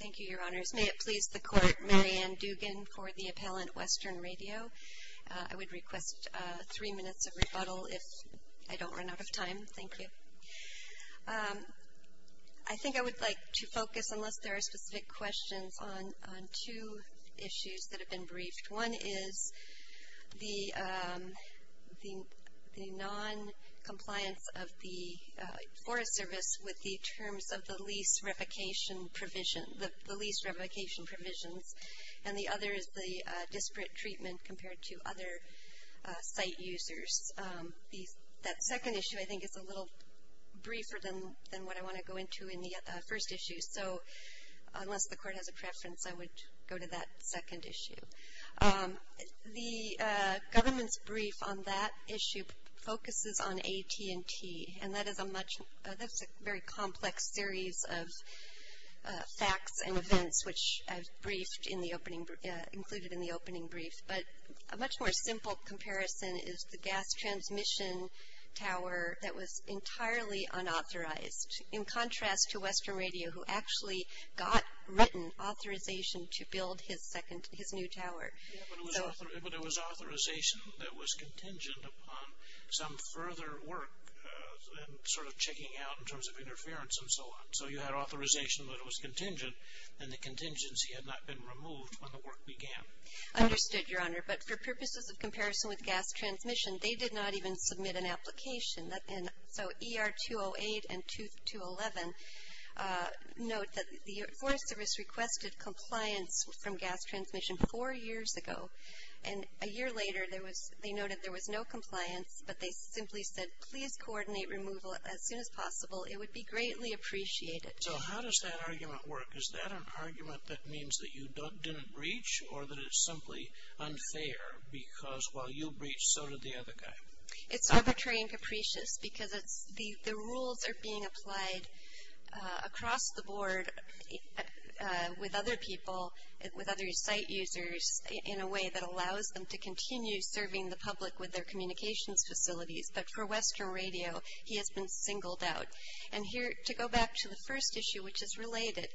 Thank you, Your Honors. May it please the Court, Marianne Dugan for the appellant, Western Radio. I would request three minutes of rebuttal if I don't run out of time. Thank you. I think I would like to focus, unless there are specific questions, on two issues that have been briefed. One is the noncompliance of the Forest Service with the terms of the lease replication provision, the lease replication provisions. And the other is the disparate treatment compared to other site users. That second issue, I think, is a little briefer than what I want to go into in the first issue. So unless the Court has a preference, I would go to that second issue. The government's brief on that issue focuses on AT&T, and that is a much, that's a very complex series of facts and events, which I've briefed in the opening, included in the opening brief. But a much more simple comparison is the gas transmission tower that was entirely unauthorized. In contrast to Western Radio, who actually got written authorization to build his second, his new tower. But it was authorization that was contingent upon some further work and sort of checking out in terms of interference and so on. So you had authorization that it was contingent, and the contingency had not been removed when the work began. Understood, Your Honor. But for purposes of comparison with gas transmission, they did not even submit an application. So ER 208 and 211 note that the Forest Service requested compliance from gas transmission four years ago. And a year later, they noted there was no compliance, but they simply said, please coordinate removal as soon as possible. It would be greatly appreciated. So how does that argument work? Is that an argument that means that you didn't breach, or that it's simply unfair because while you breached, so did the other guy? It's arbitrary and capricious because the rules are being applied across the board with other people, with other site users in a way that allows them to continue serving the public with their communications facilities. But for Western Radio, he has been singled out. And here, to go back to the first issue, which is related,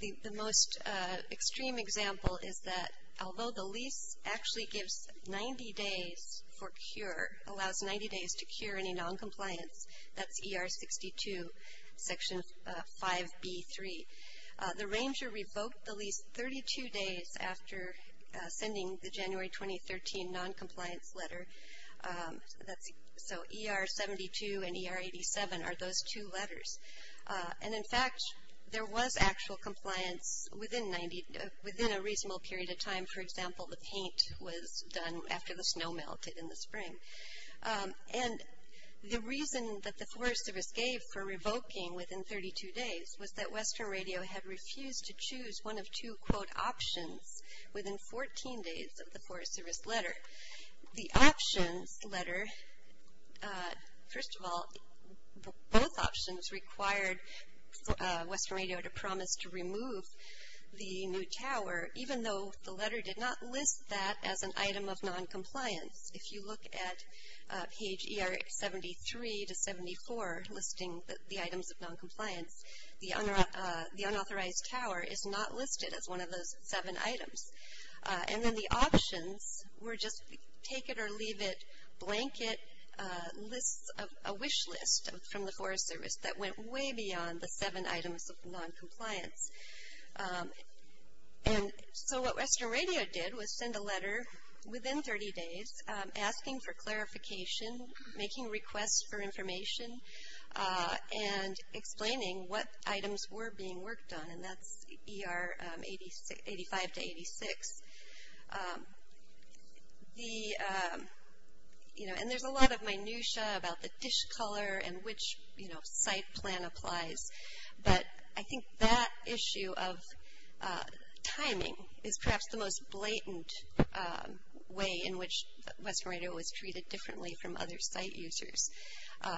the most extreme example is that although the lease actually gives 90 days for cure, allows 90 days to cure any noncompliance, that's ER 62, Section 5B3. The ranger revoked the lease 32 days after sending the January 2013 noncompliance letter. So ER 72 and ER 87 are those two letters. And in fact, there was actual compliance within 90, within a reasonable period of time. For example, the paint was done after the snow melted in the spring. And the reason that the Forest Service gave for revoking within 32 days was that Western Radio had refused to choose one of two, quote, options within 14 days of the Forest Service letter. However, the options letter, first of all, both options required Western Radio to promise to remove the new tower, even though the letter did not list that as an item of noncompliance. If you look at page ER 73 to 74, listing the items of noncompliance, the unauthorized tower is not listed as one of those seven items. And then the options were just take it or leave it, blanket lists, a wish list from the Forest Service that went way beyond the seven items of noncompliance. And so what Western Radio did was send a letter within 30 days asking for clarification, making requests for information, and explaining what items were being worked on. And that's ER 85 to 86. The, you know, and there's a lot of minutiae about the dish color and which, you know, site plan applies. But I think that issue of timing is perhaps the most blatant way in which Western Radio was treated differently from other site users.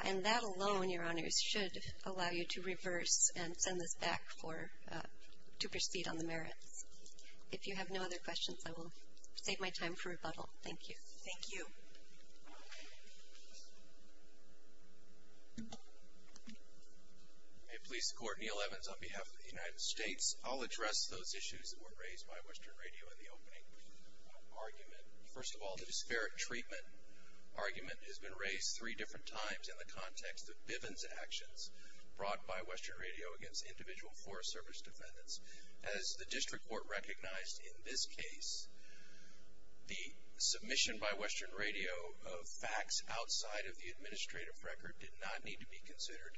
And that alone, your honors, should allow you to reverse and send this back for, to proceed on the merits. If you have no other questions, I will save my time for rebuttal. Thank you. Thank you. May it please the court, Neal Evans on behalf of the United States. I'll address those issues that were raised by Western Radio in the opening argument. First of all, the disparate treatment argument has been raised three different times in the context of Bivens' actions brought by Western Radio against individual Forest Service defendants. As the district court recognized in this case, the submission by Western Radio of facts outside of the administrative record did not need to be considered,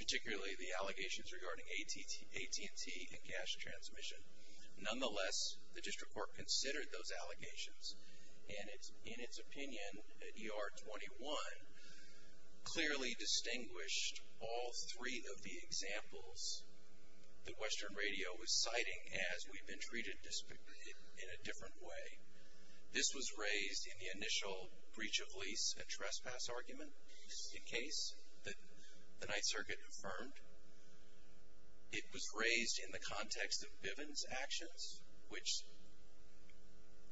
particularly the allegations regarding AT&T and gas transmission. Nonetheless, the district court considered those allegations and in its opinion at ER 21 clearly distinguished all three of the examples that Western Radio was citing as we've been treated in a different way. This was raised in the initial breach of lease and trespass argument, the case that the Ninth Circuit confirmed. It was raised in the context of Bivens' actions, which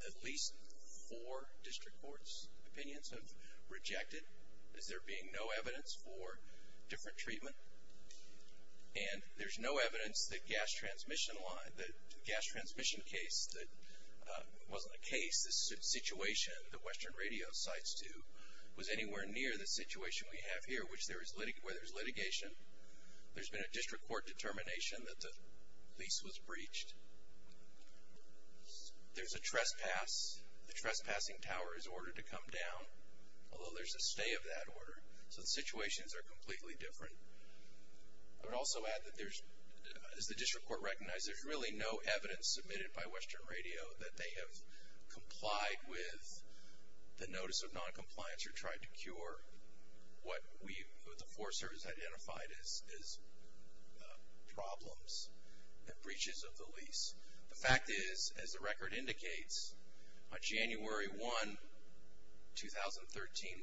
at least four district court's opinions have rejected as there being no evidence for different treatment. And there's no evidence that gas transmission line, the gas transmission case that wasn't a case, this situation that Western Radio cites too, was anywhere near the situation we have here where there's litigation. There's been a district court determination that the lease was breached. There's a trespass. The trespassing tower is ordered to come down, although there's a stay of that order. So the situations are completely different. I would also add that there's, as the district court recognized, there's really no evidence submitted by Western Radio that they have complied with the notice of noncompliance or tried to cure what the Forest Service identified as problems and breaches of the lease. The fact is, as the record indicates, on January 1, 2013,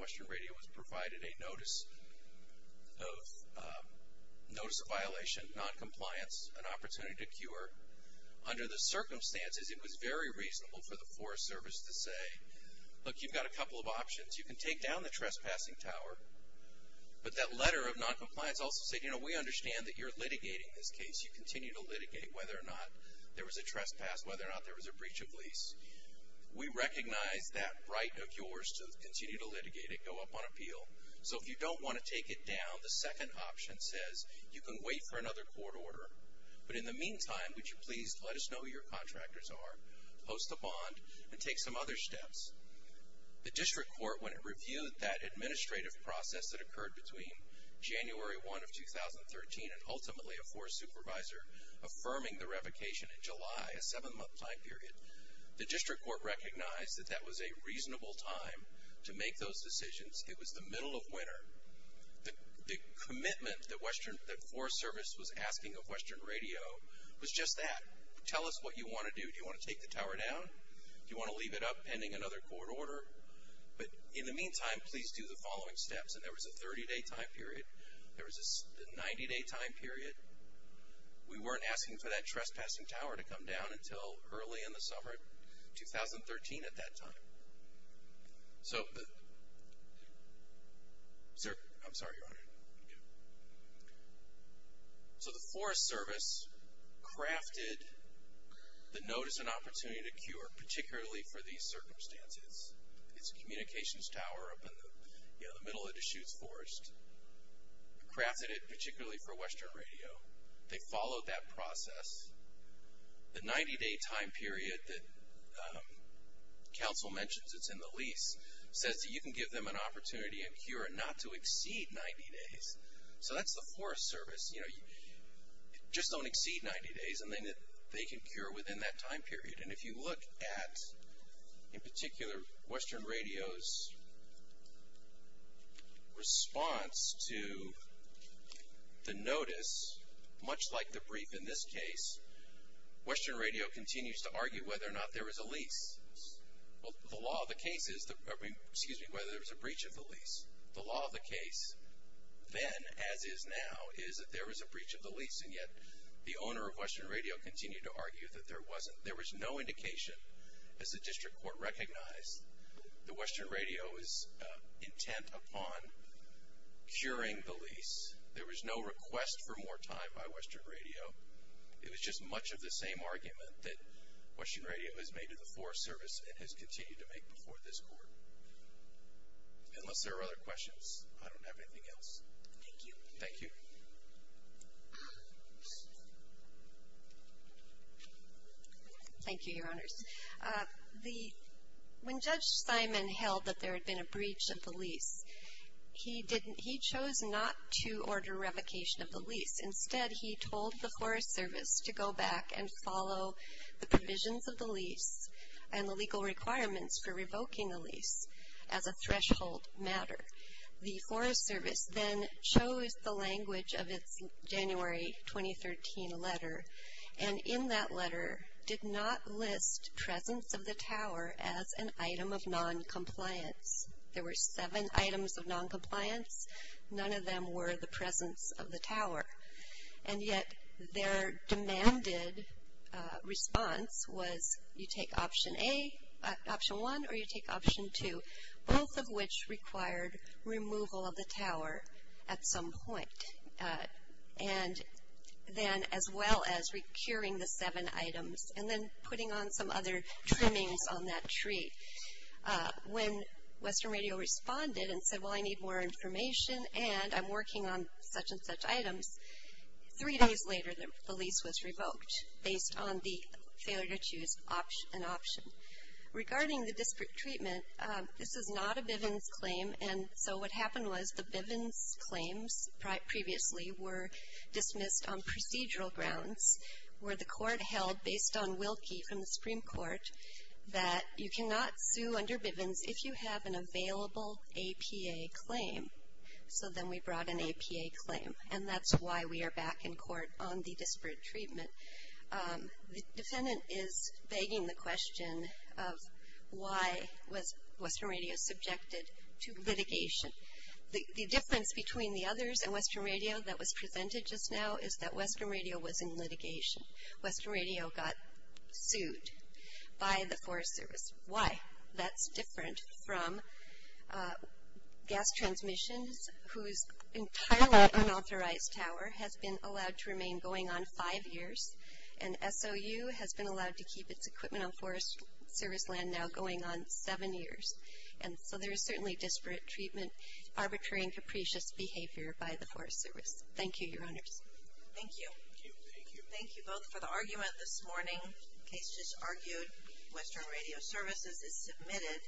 Western Radio was provided a notice of violation, noncompliance, an opportunity to cure. Under the circumstances, it was very reasonable for the Forest Service to say, look, you've got a couple of options. You can take down the trespassing tower. But that letter of noncompliance also said, you know, we understand that you're litigating this case. You continue to litigate whether or not there was a trespass, whether or not there was a breach of lease. We recognize that right of yours to continue to litigate it, go up on appeal. So if you don't want to take it down, the second option says you can wait for another court order. But in the meantime, would you please let us know who your contractors are, post a bond, and take some other steps? The district court, when it reviewed that administrative process that occurred between January 1 of 2013 and ultimately a forest supervisor affirming the revocation in July, a seven-month time period, the district court recognized that that was a reasonable time to make those decisions. It was the middle of winter. The commitment that the Forest Service was asking of Western Radio was just that. Tell us what you want to do. Do you want to take the tower down? Do you want to leave it up pending another court order? But in the meantime, please do the following steps. And there was a 30-day time period. There was a 90-day time period. We weren't asking for that trespassing tower to come down until early in the summer of 2013 at that time. So the Forest Service crafted the notice and opportunity to cure, particularly for these circumstances. It's a communications tower up in the middle of Deschutes Forest. Crafted it particularly for Western Radio. They followed that process. The 90-day time period that counsel mentions, it's in the lease, says that you can give them an opportunity and cure it not to exceed 90 days. So that's the Forest Service. You know, just don't exceed 90 days. They can cure within that time period. And if you look at, in particular, Western Radio's response to the notice, much like the brief in this case, Western Radio continues to argue whether or not there was a breach of the lease. The law of the case then, as is now, is that there was a breach of the lease, and yet the owner of Western Radio continued to argue that there wasn't. There was no indication, as the district court recognized, that Western Radio was intent upon curing the lease. There was no request for more time by Western Radio. It was just much of the same argument that Western Radio has made to the Forest Service and has continued to make before this court. Unless there are other questions, I don't have anything else. Thank you. Thank you. Thank you, Your Honors. When Judge Simon held that there had been a breach of the lease, he chose not to order revocation of the lease. Instead, he told the Forest Service to go back and follow the provisions of the lease and the legal requirements for revoking the lease as a threshold matter. The Forest Service then chose the language of its January 2013 letter, and in that letter did not list presence of the tower as an item of noncompliance. There were seven items of noncompliance. None of them were the presence of the tower. And yet their demanded response was you take Option A, Option 1, or you take Option 2, both of which required removal of the tower at some point. And then as well as recurring the seven items and then putting on some other trimmings on that tree. When Western Radio responded and said, well, I need more information and I'm working on such and such items, three days later the lease was revoked based on the failure to choose an option. Regarding the disparate treatment, this is not a Bivens claim, and so what happened was the Bivens claims previously were dismissed on procedural grounds where the court held, based on Wilkie from the Supreme Court, that you cannot sue under Bivens if you have an available APA claim. So then we brought an APA claim, and that's why we are back in court on the disparate treatment. The defendant is begging the question of why was Western Radio subjected to litigation. The difference between the others and Western Radio that was presented just now is that Western Radio was in litigation. Western Radio got sued by the Forest Service. Why? That's different from gas transmissions whose entire unauthorized tower has been allowed to remain going on five years, and SOU has been allowed to keep its equipment on Forest Service land now going on seven years. And so there is certainly disparate treatment, arbitrary and capricious behavior by the Forest Service. Thank you, Your Honors. Thank you. Thank you both for the argument this morning. The case just argued, Western Radio Services is submitted.